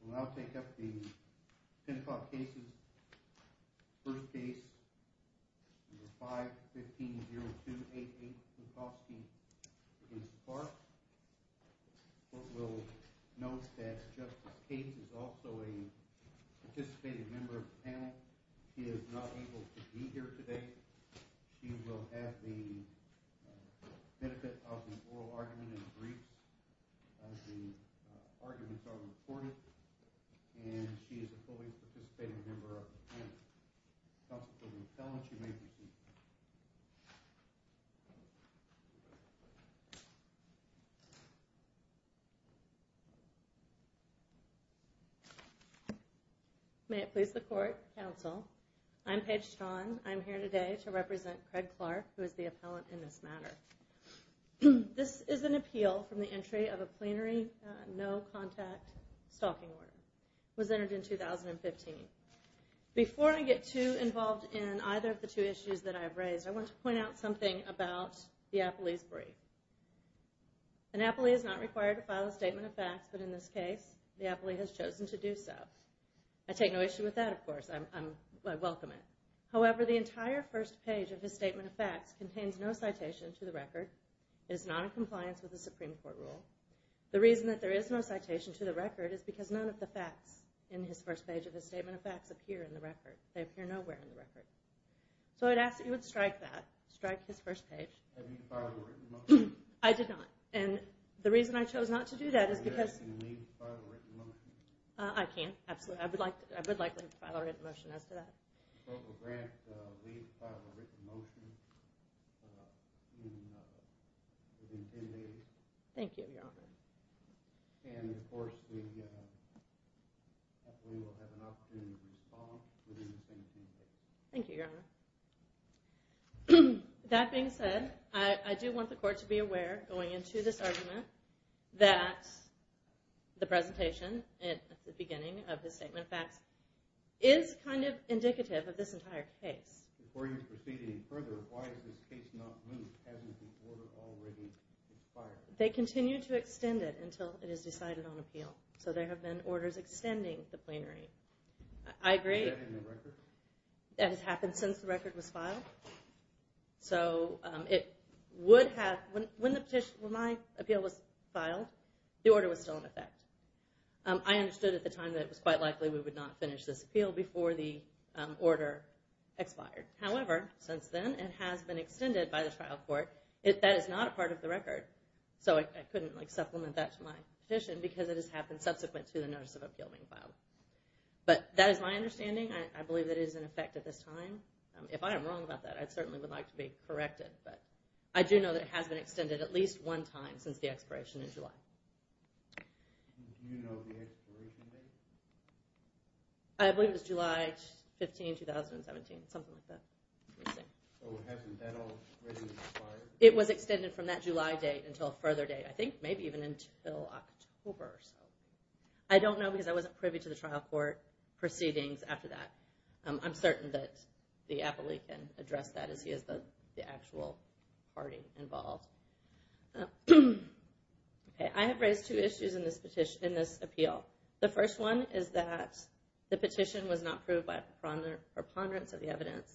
We'll now take up the Pencoff cases. First case, number 5-15-0288, Pencofsky v. Clark. The court will note that Justice Cates is also a participating member of the panel. She is not able to be here today. She will have the benefit of an oral argument and brief. The arguments are recorded and she is a fully participating member of the panel. Counsel to the appellant, you may proceed. May it please the court, counsel. I'm Paige Strachan. I'm here today to represent Craig Clark, who is the appellant in this matter. This is an appeal from the entry of a plenary no-contact stalking order. It was entered in 2015. Before I get too involved in either of the two issues that I've raised, I want to point out something about the appellee's brief. An appellee is not required to file a statement of facts, but in this case, the appellee has chosen to do so. I take no issue with that, of course. I welcome it. However, the entire first page of his statement of facts contains no citation to the record. It is not in compliance with the Supreme Court rule. The reason that there is no citation to the record is because none of the facts in his first page of his statement of facts appear in the record. They appear nowhere in the record. So I'd ask that you would strike that. Strike his first page. Have you filed a written motion? I did not. And the reason I chose not to do that is because... Can you leave and file a written motion? I can. Absolutely. I would like to leave and file a written motion as to that. Spoke with Grant to leave and file a written motion within 10 days. Thank you, Your Honor. And, of course, the appellee will have an opportunity to respond within the same 10 days. Thank you, Your Honor. That being said, I do want the Court to be aware, going into this argument, that the presentation at the beginning of his statement of facts is kind of indicative of this entire case. Before you proceed any further, why has this case not moved? Hasn't the order already expired? They continue to extend it until it is decided on appeal. So there have been orders extending the plenary. Is that in the record? That has happened since the record was filed. So it would have... When my appeal was filed, the order was still in effect. I understood at the time that it was quite likely we would not finish this appeal before the order expired. However, since then, it has been extended by the trial court. That is not a part of the record. So I couldn't supplement that to my petition because it has happened subsequent to the notice of appeal being filed. But that is my understanding. I believe that it is in effect at this time. If I am wrong about that, I certainly would like to be corrected. But I do know that it has been extended at least one time since the expiration in July. Do you know the expiration date? I believe it was July 15, 2017, something like that. Oh, hasn't that already expired? It was extended from that July date until a further date, I think maybe even until October or so. I don't know because I wasn't privy to the trial court proceedings after that. I'm certain that the appellee can address that as he is the actual party involved. I have raised two issues in this appeal. The first one is that the petition was not proved by preponderance of the evidence,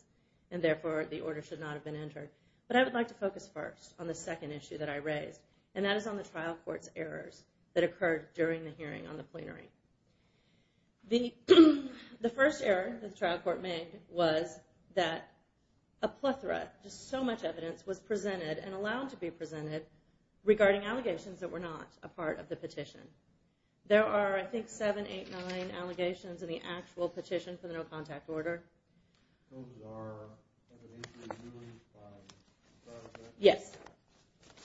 and therefore the order should not have been entered. But I would like to focus first on the second issue that I raised, and that is on the trial court's errors that occurred during the hearing on the plenary. The first error that the trial court made was that a plethora, just so much evidence, was presented and allowed to be presented regarding allegations that were not a part of the petition. There are, I think, seven, eight, nine allegations in the actual petition for the no-contact order. Those are evidence that was used by the trial court? Yes.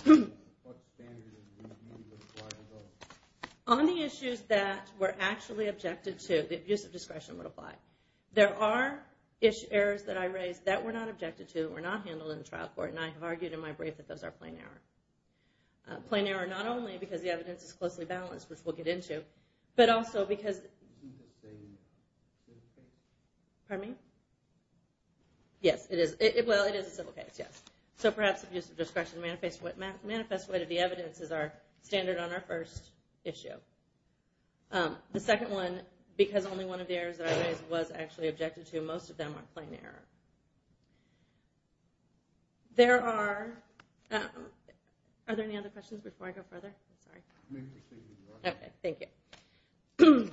What standard did you use? On the issues that were actually objected to, the abuse of discretion would apply. There are errors that I raised that were not objected to or not handled in the trial court, and I have argued in my brief that those are plain error. Plain error not only because the evidence is closely balanced, which we'll get into, but also because— Isn't this a civil case? Pardon me? Yes, it is. Well, it is a civil case, yes. So perhaps abuse of discretion manifests the way that the evidence is our standard on our first issue. The second one, because only one of the errors that I raised was actually objected to, most of them are plain error. There are—are there any other questions before I go further? Sorry. Maybe we should speak more. Okay, thank you.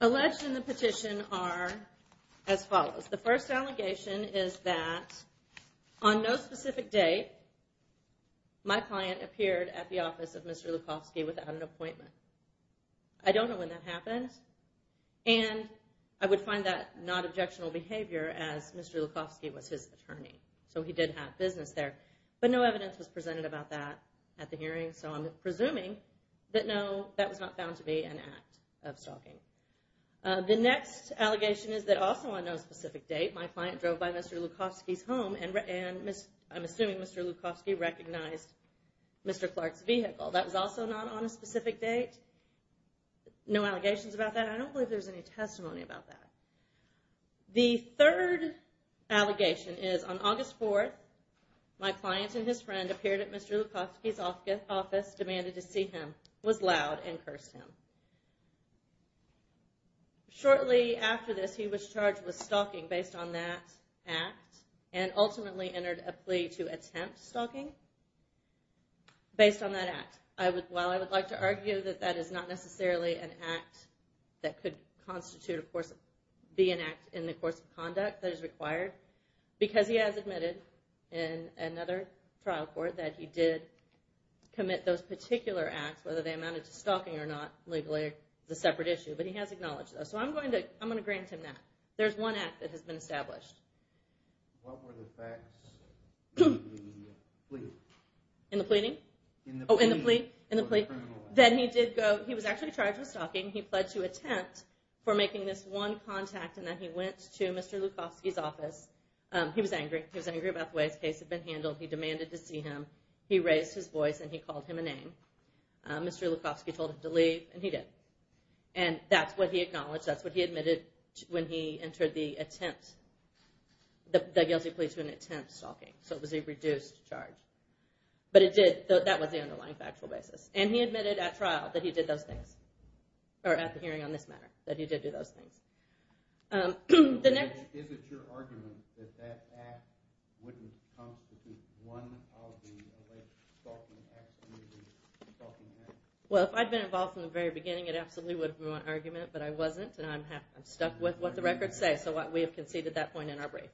Alleged in the petition are as follows. The first allegation is that on no specific date, my client appeared at the office of Mr. Lukofsky without an appointment. I don't know when that happened, and I would find that not objectionable behavior as Mr. Lukofsky was his attorney, so he did have business there. But no evidence was presented about that at the hearing, so I'm presuming that, no, that was not found to be an act of stalking. The next allegation is that also on no specific date, my client drove by Mr. Lukofsky's home, and I'm assuming Mr. Lukofsky recognized Mr. Clark's vehicle. That was also not on a specific date. No allegations about that. I don't believe there's any testimony about that. The third allegation is on August 4th, my client and his friend appeared at Mr. Lukofsky's office, demanded to see him, was loud, and cursed him. Shortly after this, he was charged with stalking based on that act, and ultimately entered a plea to attempt stalking based on that act. While I would like to argue that that is not necessarily an act that could constitute, of course, be an act in the course of conduct that is required, because he has admitted in another trial court that he did commit those particular acts, whether they amounted to stalking or not, legally, is a separate issue, but he has acknowledged those. So I'm going to grant him that. There's one act that has been established. What were the facts in the plea? In the pleading? In the plea. Oh, in the plea. Then he was actually charged with stalking. He pled to attempt for making this one contact, and then he went to Mr. Lukofsky's office. He was angry. He was angry about the way his case had been handled. He demanded to see him. He raised his voice, and he called him a name. Mr. Lukofsky told him to leave, and he did. And that's what he acknowledged. That's what he admitted when he entered the guilty plea to an attempt stalking. So it was a reduced charge. But that was the underlying factual basis. And he admitted at trial that he did those things, or at the hearing on this matter, that he did do those things. Is it your argument that that act wouldn't constitute one of the alleged stalking acts? Well, if I'd been involved from the very beginning, it absolutely would have been my argument. But I wasn't, and I'm stuck with what the records say. So we have conceded that point in our brief.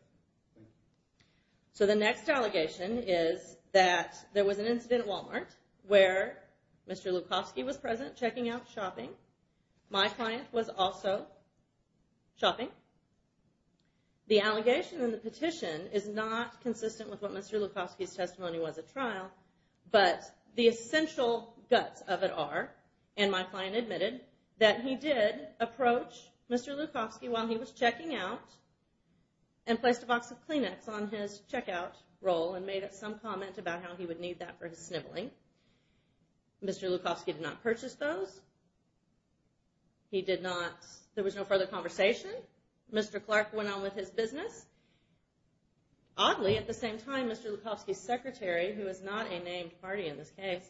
So the next allegation is that there was an incident at Walmart where Mr. Lukofsky was present, checking out, shopping. My client was also shopping. The allegation in the petition is not consistent with what Mr. Lukofsky's testimony was at trial. But the essential guts of it are, and my client admitted, that he did approach Mr. Lukofsky while he was checking out and placed a box of Kleenex on his checkout roll and made some comment about how he would need that for his sniveling. Mr. Lukofsky did not purchase those. There was no further conversation. Mr. Clark went on with his business. Oddly, at the same time, Mr. Lukofsky's secretary, who is not a named party in this case,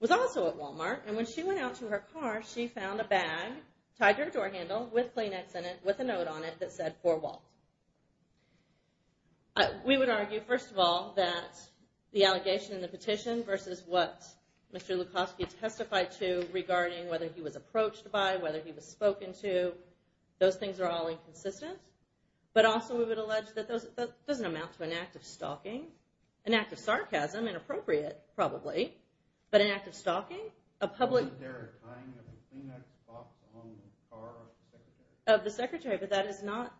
was also at Walmart. And when she went out to her car, she found a bag tied to her door handle with Kleenex in it, with a note on it that said, For Walt. We would argue, first of all, that the allegation in the petition versus what Mr. Lukofsky testified to regarding whether he was approached by, whether he was spoken to, those things are all inconsistent. But also, we would allege that that doesn't amount to an act of stalking. An act of sarcasm, inappropriate, probably. But an act of stalking? Was there a tying of a Kleenex box along the car of the secretary? Of the secretary, but that is not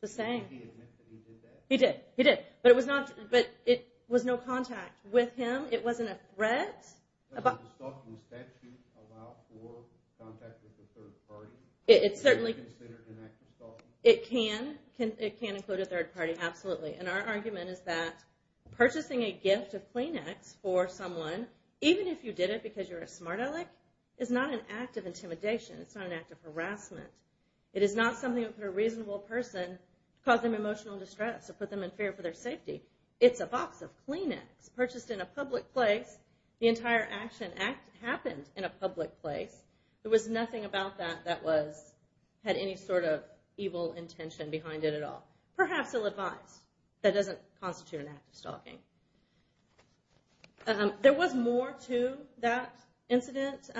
the same. Did he admit that he did that? He did. He did. But it was no contact with him. It wasn't a threat. Does a stalking statute allow for contact with a third party? It certainly can. Is it considered an act of stalking? It can include a third party, absolutely. And our argument is that purchasing a gift of Kleenex for someone, even if you did it because you're a smart aleck, is not an act of intimidation. It's not an act of harassment. It is not something that would put a reasonable person, cause them emotional distress or put them in fear for their safety. It's a box of Kleenex purchased in a public place. The entire action happened in a public place. There was nothing about that that had any sort of evil intention behind it at all. Perhaps ill-advised. That doesn't constitute an act of stalking. There was more to that incident.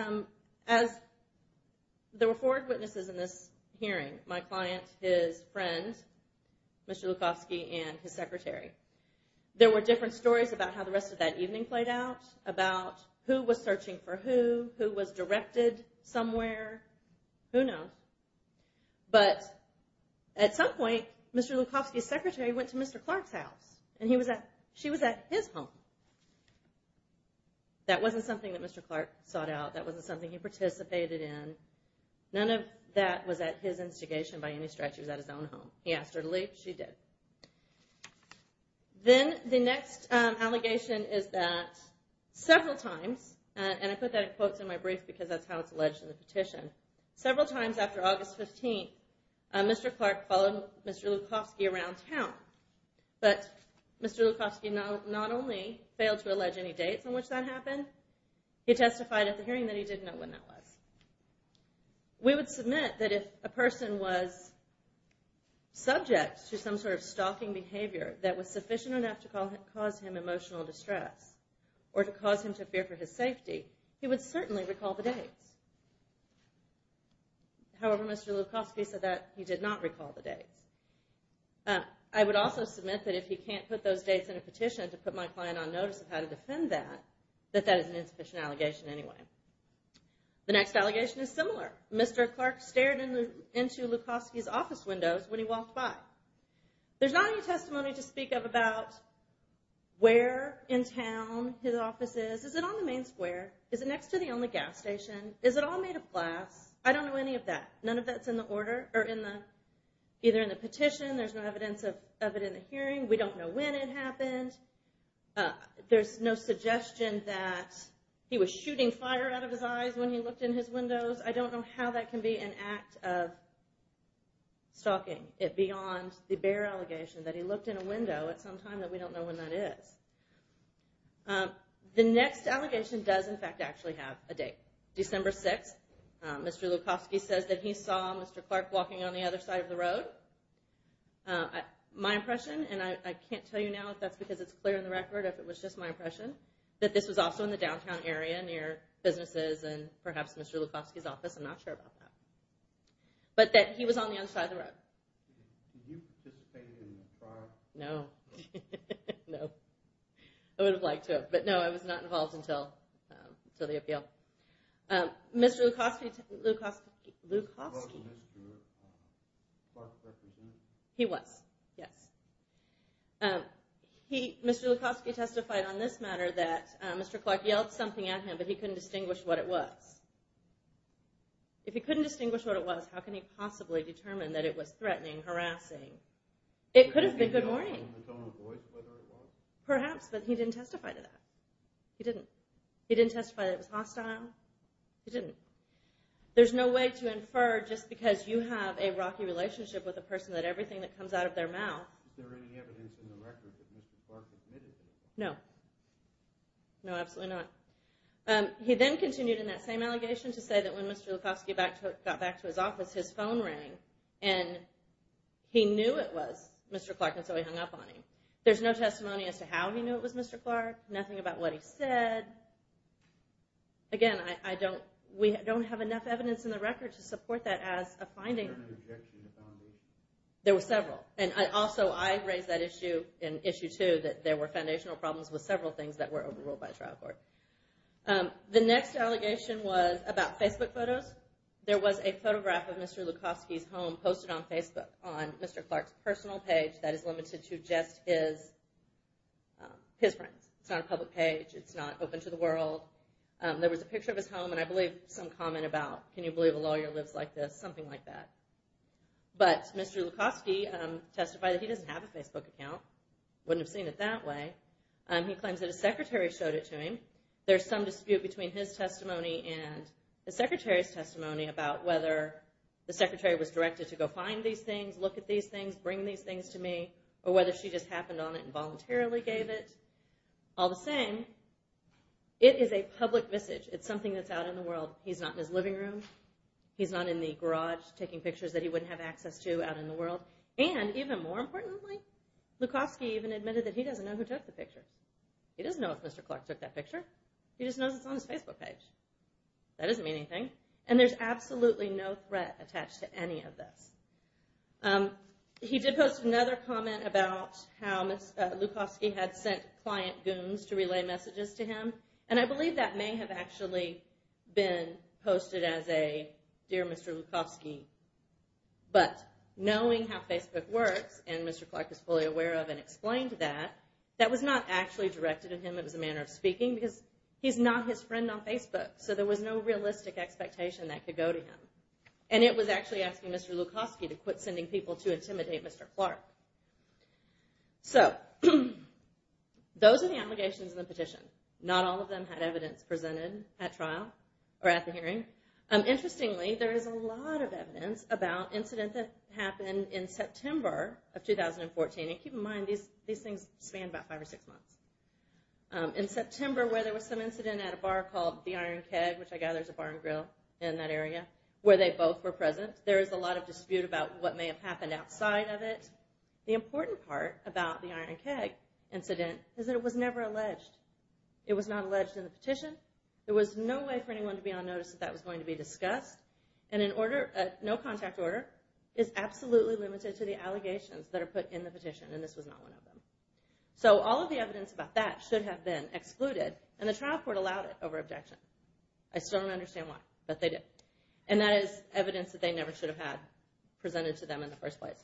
There were four witnesses in this hearing. My client, his friend, Mr. Lukofsky, and his secretary. There were different stories about how the rest of that evening played out, about who was searching for who, who was directed somewhere. Who knows? But at some point, Mr. Lukofsky's secretary went to Mr. Clark's house, and she was at his home. That wasn't something that Mr. Clark sought out. That wasn't something he participated in. None of that was at his instigation by any stretch. He was at his own home. He asked her to leave. She did. Then the next allegation is that several times, and I put that in quotes in my brief because that's how it's alleged in the petition, several times after August 15th, Mr. Clark followed Mr. Lukofsky around town. But Mr. Lukofsky not only failed to allege any dates on which that happened, he testified at the hearing that he didn't know when that was. We would submit that if a person was subject to some sort of stalking behavior that was sufficient enough to cause him emotional distress or to cause him to fear for his safety, he would certainly recall the dates. However, Mr. Lukofsky said that he did not recall the dates. I would also submit that if he can't put those dates in a petition to put my client on notice of how to defend that, that that is an insufficient allegation anyway. The next allegation is similar. Mr. Clark stared into Lukofsky's office windows when he walked by. There's not any testimony to speak of about where in town his office is. Is it on the main square? Is it next to the only gas station? Is it all made of glass? I don't know any of that. None of that's in the order or either in the petition. There's no evidence of it in the hearing. We don't know when it happened. There's no suggestion that he was shooting fire out of his eyes when he looked in his windows. I don't know how that can be an act of stalking it beyond the bare allegation that he looked in a window at some time that we don't know when that is. The next allegation does, in fact, actually have a date, December 6th. Mr. Lukofsky says that he saw Mr. Clark walking on the other side of the road. My impression, and I can't tell you now if that's because it's clear in the record, if it was just my impression, that this was also in the downtown area near businesses and perhaps Mr. Lukofsky's office. I'm not sure about that. But that he was on the other side of the road. Did you participate in the trial? No. No. I would have liked to have, but no, I was not involved until the appeal. Mr. Lukofsky testified on this matter that Mr. Clark yelled something at him, but he couldn't distinguish what it was. If he couldn't distinguish what it was, how can he possibly determine that it was threatening, harassing? It could have been good morning. Perhaps, but he didn't testify to that. He didn't. He didn't testify that it was hostile. He didn't. There's no way to infer just because you have a rocky relationship with a person that everything that comes out of their mouth. Is there any evidence in the record that Mr. Clark admitted to that? No. No, absolutely not. He then continued in that same allegation to say that when Mr. Lukofsky got back to his office, his phone rang, and he knew it was Mr. Clark, and so he hung up on him. There's no testimony as to how he knew it was Mr. Clark. Nothing about what he said. Again, we don't have enough evidence in the record to support that as a finding. Was there an objection to foundation? There were several, and also I raised that issue too, that there were foundational problems with several things that were overruled by trial court. The next allegation was about Facebook photos. Mr. Clark's personal page that is limited to just his friends. It's not a public page. It's not open to the world. There was a picture of his home, and I believe some comment about, can you believe a lawyer lives like this, something like that. But Mr. Lukofsky testified that he doesn't have a Facebook account. Wouldn't have seen it that way. He claims that his secretary showed it to him. There's some dispute between his testimony and the secretary's testimony about whether the secretary was directed to go find these things, look at these things, bring these things to me, or whether she just happened on it and voluntarily gave it. All the same, it is a public message. It's something that's out in the world. He's not in his living room. He's not in the garage taking pictures that he wouldn't have access to out in the world. And even more importantly, Lukofsky even admitted that he doesn't know who took the picture. He doesn't know if Mr. Clark took that picture. He just knows it's on his Facebook page. That doesn't mean anything. And there's absolutely no threat attached to any of this. He did post another comment about how Lukofsky had sent client goons to relay messages to him, and I believe that may have actually been posted as a dear Mr. Lukofsky. But knowing how Facebook works, and Mr. Clark is fully aware of and explained that, that was not actually directed at him. It was a manner of speaking because he's not his friend on Facebook, so there was no realistic expectation that could go to him. And it was actually asking Mr. Lukofsky to quit sending people to intimidate Mr. Clark. So those are the allegations in the petition. Not all of them had evidence presented at trial or at the hearing. Interestingly, there is a lot of evidence about incidents that happened in September of 2014. And keep in mind, these things span about five or six months. In September, where there was some incident at a bar called the Iron Keg, which I gather is a bar and grill in that area, where they both were present, there is a lot of dispute about what may have happened outside of it. The important part about the Iron Keg incident is that it was never alleged. It was not alleged in the petition. There was no way for anyone to be on notice that that was going to be discussed. And no contact order is absolutely limited to the allegations that are put in the petition, and this was not one of them. So all of the evidence about that should have been excluded, and the trial court allowed it over objection. I still don't understand why, but they did. And that is evidence that they never should have had presented to them in the first place.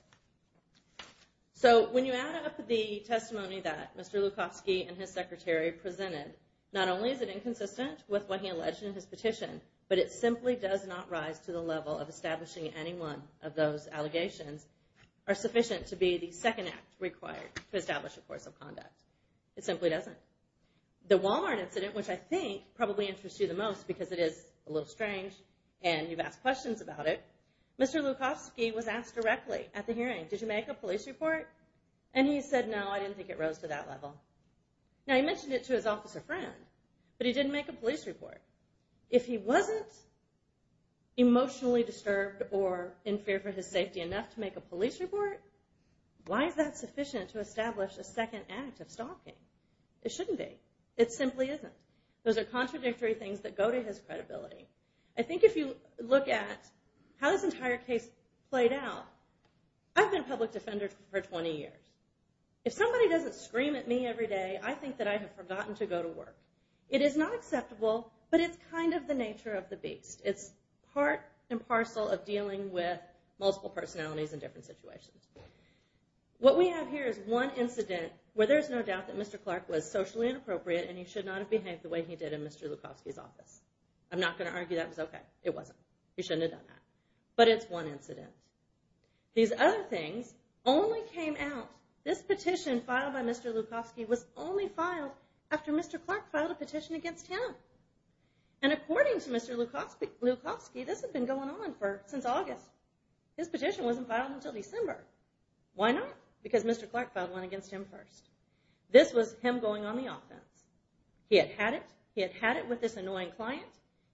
So when you add up the testimony that Mr. Lukofsky and his secretary presented, not only is it inconsistent with what he alleged in his petition, but it simply does not rise to the level of establishing any one of those allegations are sufficient to be the second act required to establish a course of conduct. It simply doesn't. The Walmart incident, which I think probably interests you the most, because it is a little strange and you've asked questions about it, Mr. Lukofsky was asked directly at the hearing, did you make a police report? And he said, no, I didn't think it rose to that level. Now he mentioned it to his officer friend, but he didn't make a police report. If he wasn't emotionally disturbed or in fear for his safety enough to make a police report, why is that sufficient to establish a second act of stalking? It shouldn't be. It simply isn't. Those are contradictory things that go to his credibility. I think if you look at how this entire case played out, I've been a public defender for 20 years. If somebody doesn't scream at me every day, I think that I have forgotten to go to work. It is not acceptable, but it's kind of the nature of the beast. It's part and parcel of dealing with multiple personalities in different situations. What we have here is one incident where there's no doubt that Mr. Clark was socially inappropriate and he should not have behaved the way he did in Mr. Lukofsky's office. I'm not going to argue that was okay. It wasn't. He shouldn't have done that. But it's one incident. These other things only came out, this petition filed by Mr. Lukofsky was only filed after Mr. Clark filed a petition against him. And according to Mr. Lukofsky, this had been going on since August. His petition wasn't filed until December. Why not? Because Mr. Clark filed one against him first. This was him going on the offense. He had had it. He had had it with this annoying client.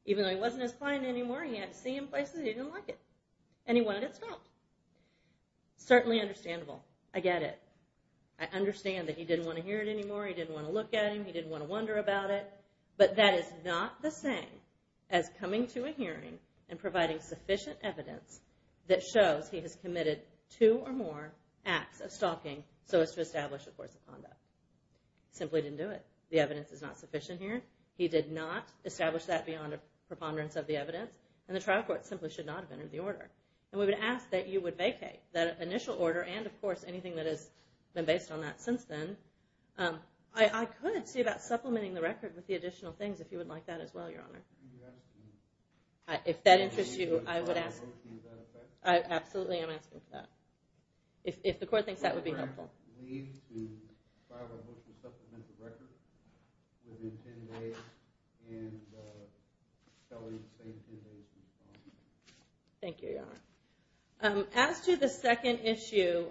Even though he wasn't his client anymore, he had to see him places he didn't like it. And he wanted it stopped. Certainly understandable. I get it. I understand that he didn't want to hear it anymore. He didn't want to look at him. He didn't want to wonder about it. But that is not the same as coming to a hearing and providing sufficient evidence that shows he has committed two or more acts of stalking so as to establish a course of conduct. Simply didn't do it. The evidence is not sufficient here. He did not establish that beyond a preponderance of the evidence. And the trial court simply should not have entered the order. And we would ask that you would vacate that initial order and, of course, anything that has been based on that since then. I could see about supplementing the record with the additional things if you would like that as well, Your Honor. If that interests you, I would ask. Absolutely, I'm asking for that. If the court thinks that would be helpful. We need to file a motion to supplement the record within 10 days Thank you, Your Honor. As to the second issue,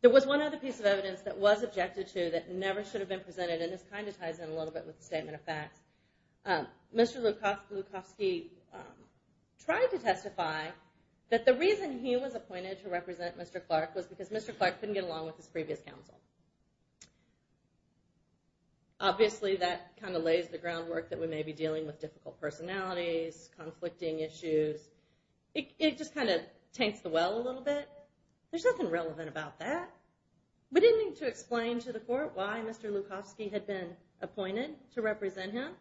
there was one other piece of evidence that was objected to that never should have been presented. And this kind of ties in a little bit with the statement of facts. Mr. Lukofsky tried to testify that the reason he was appointed to represent Mr. Clark was because Mr. Clark couldn't get along with his previous counsel. Obviously, that kind of lays the groundwork that we may be dealing with difficult personalities, conflicting issues. It just kind of tanks the well a little bit. There's nothing relevant about that. We didn't need to explain to the court why Mr. Lukofsky had been appointed to represent him.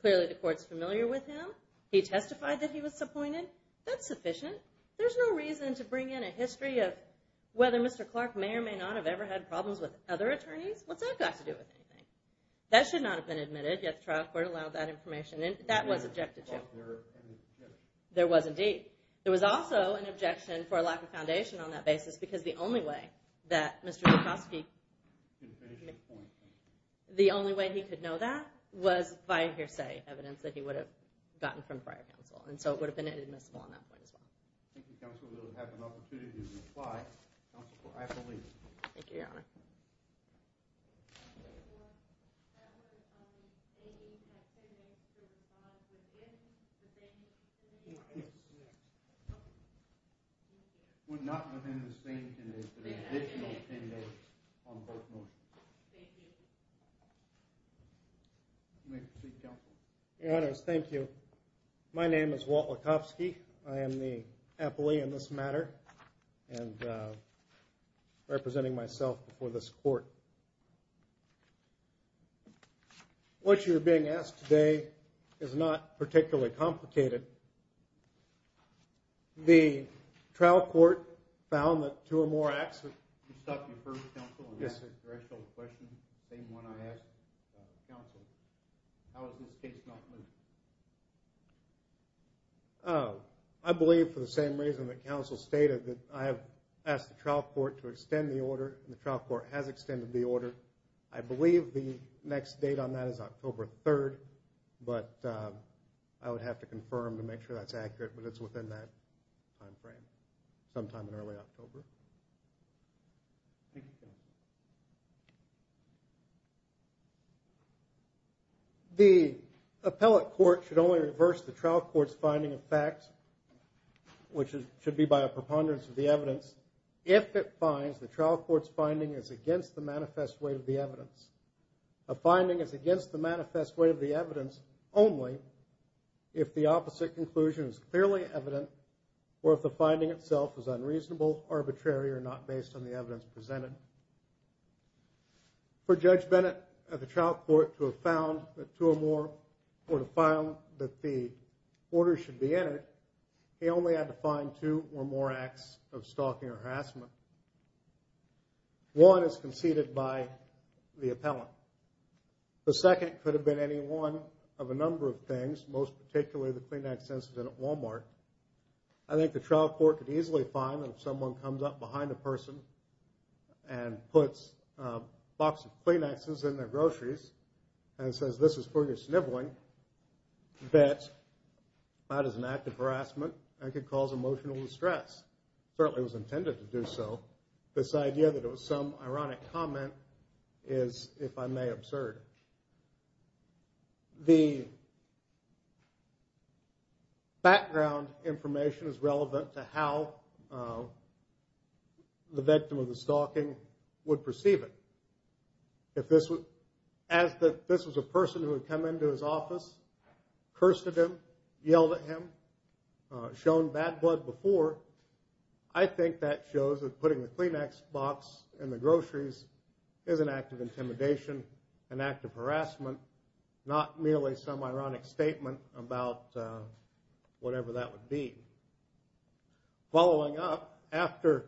Clearly, the court's familiar with him. He testified that he was appointed. That's sufficient. There's no reason to bring in a history of whether Mr. Clark may or may not have ever had problems with other attorneys. What's that got to do with anything? That should not have been admitted, yet the trial court allowed that information. That was objected to. There was indeed. There was also an objection for a lack of foundation on that basis because the only way that Mr. Lukofsky could know that was via hearsay evidence that he would have gotten from prior counsel. And so it would have been inadmissible on that point as well. Thank you, counsel. We'll have an opportunity to reply. Counsel, I have to leave. Thank you, Your Honor. Your Honor, thank you. My name is Walt Lukofsky. I am the appellee in this matter and representing myself before this court. What you're being asked today is not particularly complicated. The trial court found that two or more acts of… You stopped me first, counsel. Yes, sir. same one I asked counsel. How is this case not moved? I believe for the same reason that counsel stated, that I have asked the trial court to extend the order and the trial court has extended the order. I believe the next date on that is October 3rd, but I would have to confirm to make sure that's accurate, but it's within that time frame, sometime in early October. The appellate court should only reverse the trial court's finding of fact, which should be by a preponderance of the evidence, if it finds the trial court's finding is against the manifest way of the evidence. A finding is against the manifest way of the evidence only if the opposite conclusion is clearly evident or if the finding itself is unreasonable, arbitrary, or not based on the evidence presented. For Judge Bennett of the trial court to have found that two or more, or to have found that the order should be entered, he only had to find two or more acts of stalking or harassment. One is conceded by the appellant. The second could have been any one of a number of things, most particularly the Kleenex incident at Walmart. I think the trial court could easily find that if someone comes up behind a person and puts a box of Kleenexes in their groceries and says, this is for your sniveling, that that is an act of harassment and could cause emotional distress. It certainly was intended to do so. This idea that it was some ironic comment is, if I may, absurd. The background information is relevant to how the victim of the stalking would perceive it. If this was a person who had come into his office, cursed at him, yelled at him, shown bad blood before, I think that shows that putting the Kleenex box in the groceries is an act of intimidation, an act of harassment, not merely some ironic statement about whatever that would be. Following up, after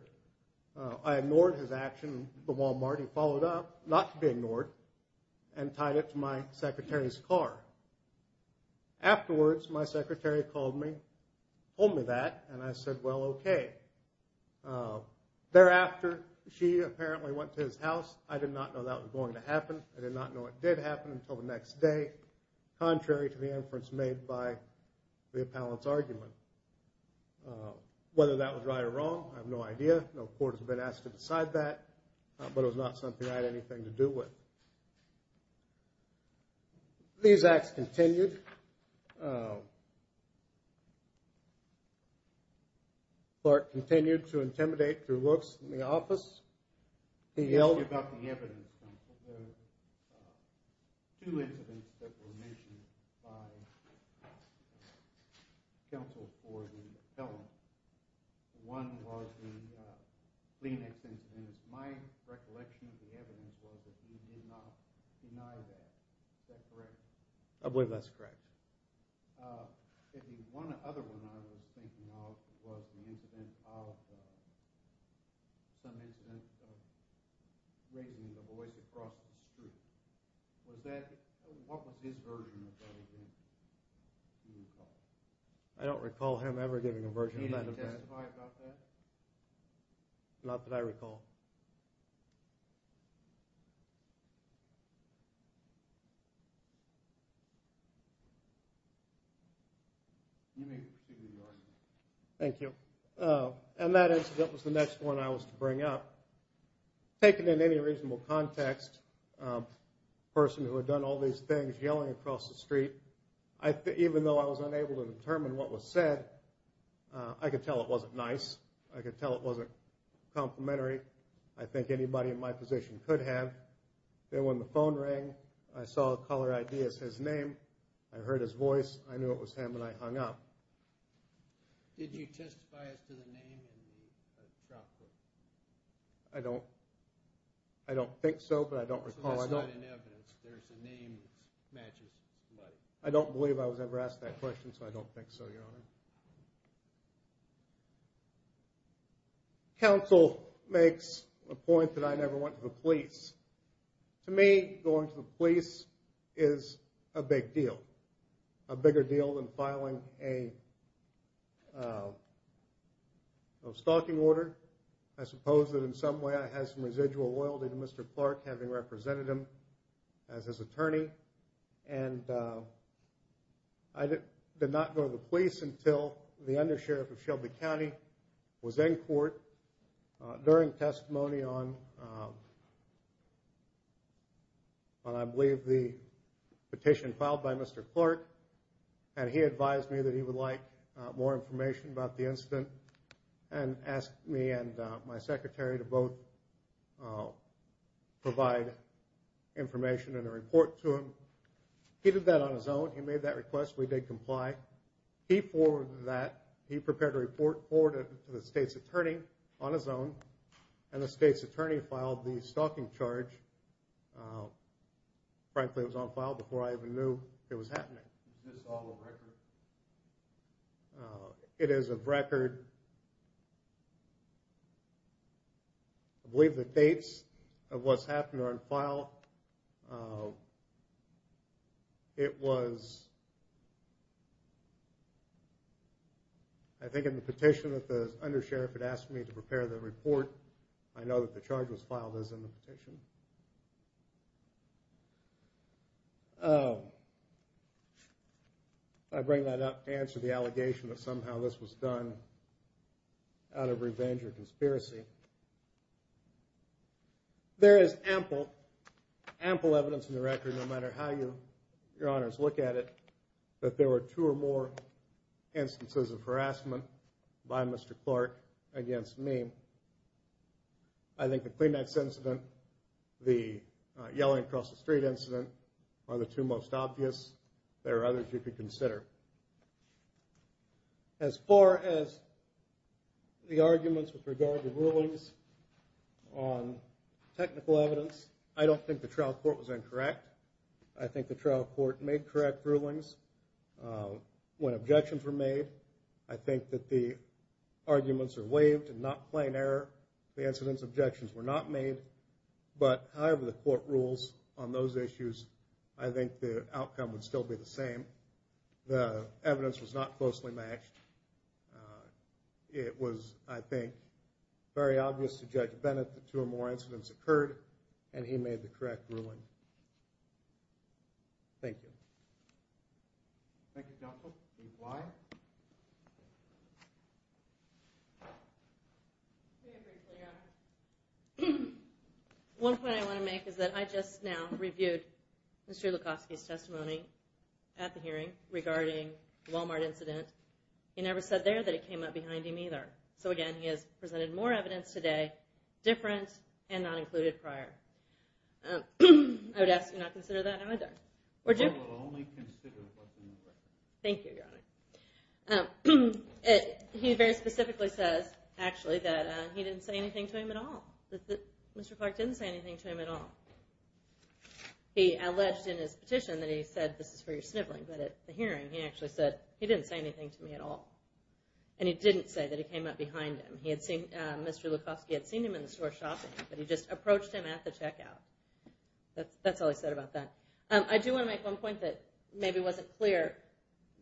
I ignored his action at the Walmart, he followed up, not to be ignored, and tied it to my secretary's car. Afterwards, my secretary called me, told me that, and I said, well, okay. Thereafter, she apparently went to his house. I did not know that was going to happen. I did not know it did happen until the next day, contrary to the inference made by the appellant's argument. Whether that was right or wrong, I have no idea. No court has been asked to decide that, but it was not something I had anything to do with. These acts continued. Clark continued to intimidate through looks in the office. He yelled about the evidence. There were two incidents that were mentioned by counsel for the appellant. One was the Kleenex incident. My recollection of the evidence was that he did not deny that. Is that correct? I believe that's correct. The other one I was thinking of was the incident of some incident of raising the voice across the street. What was his version of that event, do you recall? I don't recall him ever giving a version of that event. Did he testify about that? Not that I recall. Thank you. That incident was the next one I was to bring up. Taken in any reasonable context, a person who had done all these things yelling across the street, even though I was unable to determine what was said, I could tell it wasn't nice. I could tell it wasn't complimentary. I think anybody in my position could have. Then when the phone rang, I saw a caller ID as his name. I heard his voice. I knew it was him, and I hung up. Did you testify as to the name? I don't think so, but I don't recall. That's not in evidence. There's a name that matches. I don't believe I was ever asked that question, so I don't think so, Your Honor. Counsel makes a point that I never went to the police. To me, going to the police is a big deal, a bigger deal than filing a stalking order. I suppose that in some way I had some residual loyalty to Mr. Clark, having represented him as his attorney, and I did not go to the police until the undersheriff of Shelby County was in court during testimony on, I believe, the petition filed by Mr. Clark, and he advised me that he would like more information about the incident and asked me and my secretary to both provide information and a report to him. He did that on his own. He made that request. We did comply. He forwarded that. He prepared a report forwarded to the state's attorney on his own, and the state's attorney filed the stalking charge. Frankly, it was on file before I even knew it was happening. Is this all a record? It is a record. I believe the dates of what's happened are on file. It was, I think, in the petition that the undersheriff had asked me to prepare the report. I know that the charge was filed as in the petition. I bring that up to answer the allegation that somehow this was done out of revenge or conspiracy. There is ample, ample evidence in the record, no matter how your honors look at it, that there were two or more instances of harassment by Mr. Clark against me. I think the Kleenex incident, the yelling across the street incident, are the two most obvious. There are others you could consider. As far as the arguments with regard to rulings on technical evidence, I don't think the trial court was incorrect. I think the trial court made correct rulings. When objections were made, I think that the arguments are waived and not plain error. The incident's objections were not made, but however the court rules on those issues, I think the outcome would still be the same. The evidence was not closely matched. It was, I think, very obvious to Judge Bennett that two or more incidents occurred, and he made the correct ruling. Thank you. Thank you, counsel. Ms. Bly? One point I want to make is that I just now reviewed Mr. Lukofsky's testimony at the hearing regarding the Walmart incident. He never said there that it came up behind him either. So again, he has presented more evidence today, different and not included prior. I would ask you not to consider that either. I will only consider what's in the record. Thank you, Your Honor. He very specifically says, actually, that he didn't say anything to him at all, that Mr. Clark didn't say anything to him at all. He alleged in his petition that he said, this is for your sniveling, but at the hearing, he actually said, he didn't say anything to me at all, and he didn't say that it came up behind him. Mr. Lukofsky had seen him in the store shopping, but he just approached him at the checkout. That's all he said about that. I do want to make one point that maybe wasn't clear.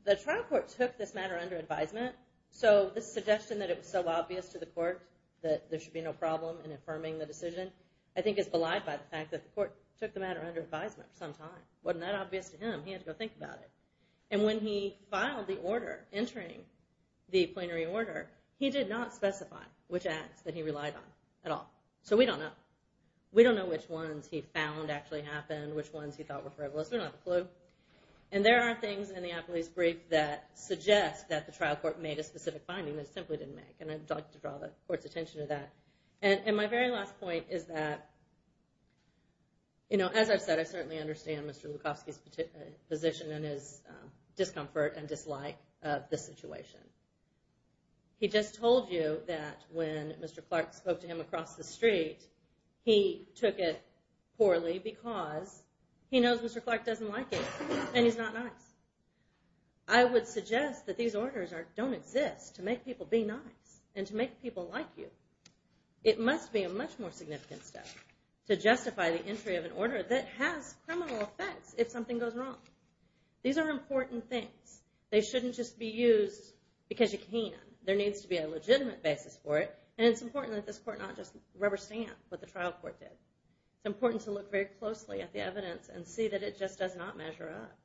The trial court took this matter under advisement, so the suggestion that it was so obvious to the court that there should be no problem in affirming the decision, I think, is belied by the fact that the court took the matter under advisement for some time. It wasn't that obvious to him. He had to go think about it. And when he filed the order, entering the plenary order, he did not specify which acts that he relied on at all. So we don't know. We don't know which ones he found actually happened, which ones he thought were frivolous. We don't have a clue. And there are things in the Appleby's brief that suggest that the trial court made a specific finding that it simply didn't make, and I'd like to draw the court's attention to that. And my very last point is that, you know, as I've said, I certainly understand Mr. Lukofsky's position and his discomfort and dislike of this situation. He just told you that when Mr. Clark spoke to him across the street, he took it poorly because he knows Mr. Clark doesn't like it and he's not nice. I would suggest that these orders don't exist to make people be nice and to make people like you. It must be a much more significant step to justify the entry of an order that has criminal effects if something goes wrong. These are important things. They shouldn't just be used because you can. There needs to be a legitimate basis for it, and it's important that this court not just rubber stamp what the trial court did. It's important to look very closely at the evidence and see that it just does not measure up.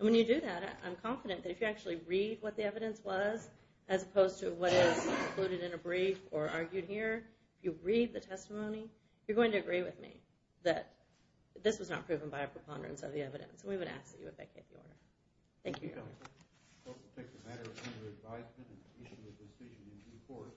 And when you do that, I'm confident that if you actually read what the evidence was as opposed to what is included in a brief or argued here, if you read the testimony, you're going to agree with me that this was not proven by a preponderance of the evidence, and we would ask that you abdicate the order. Thank you. Thank you.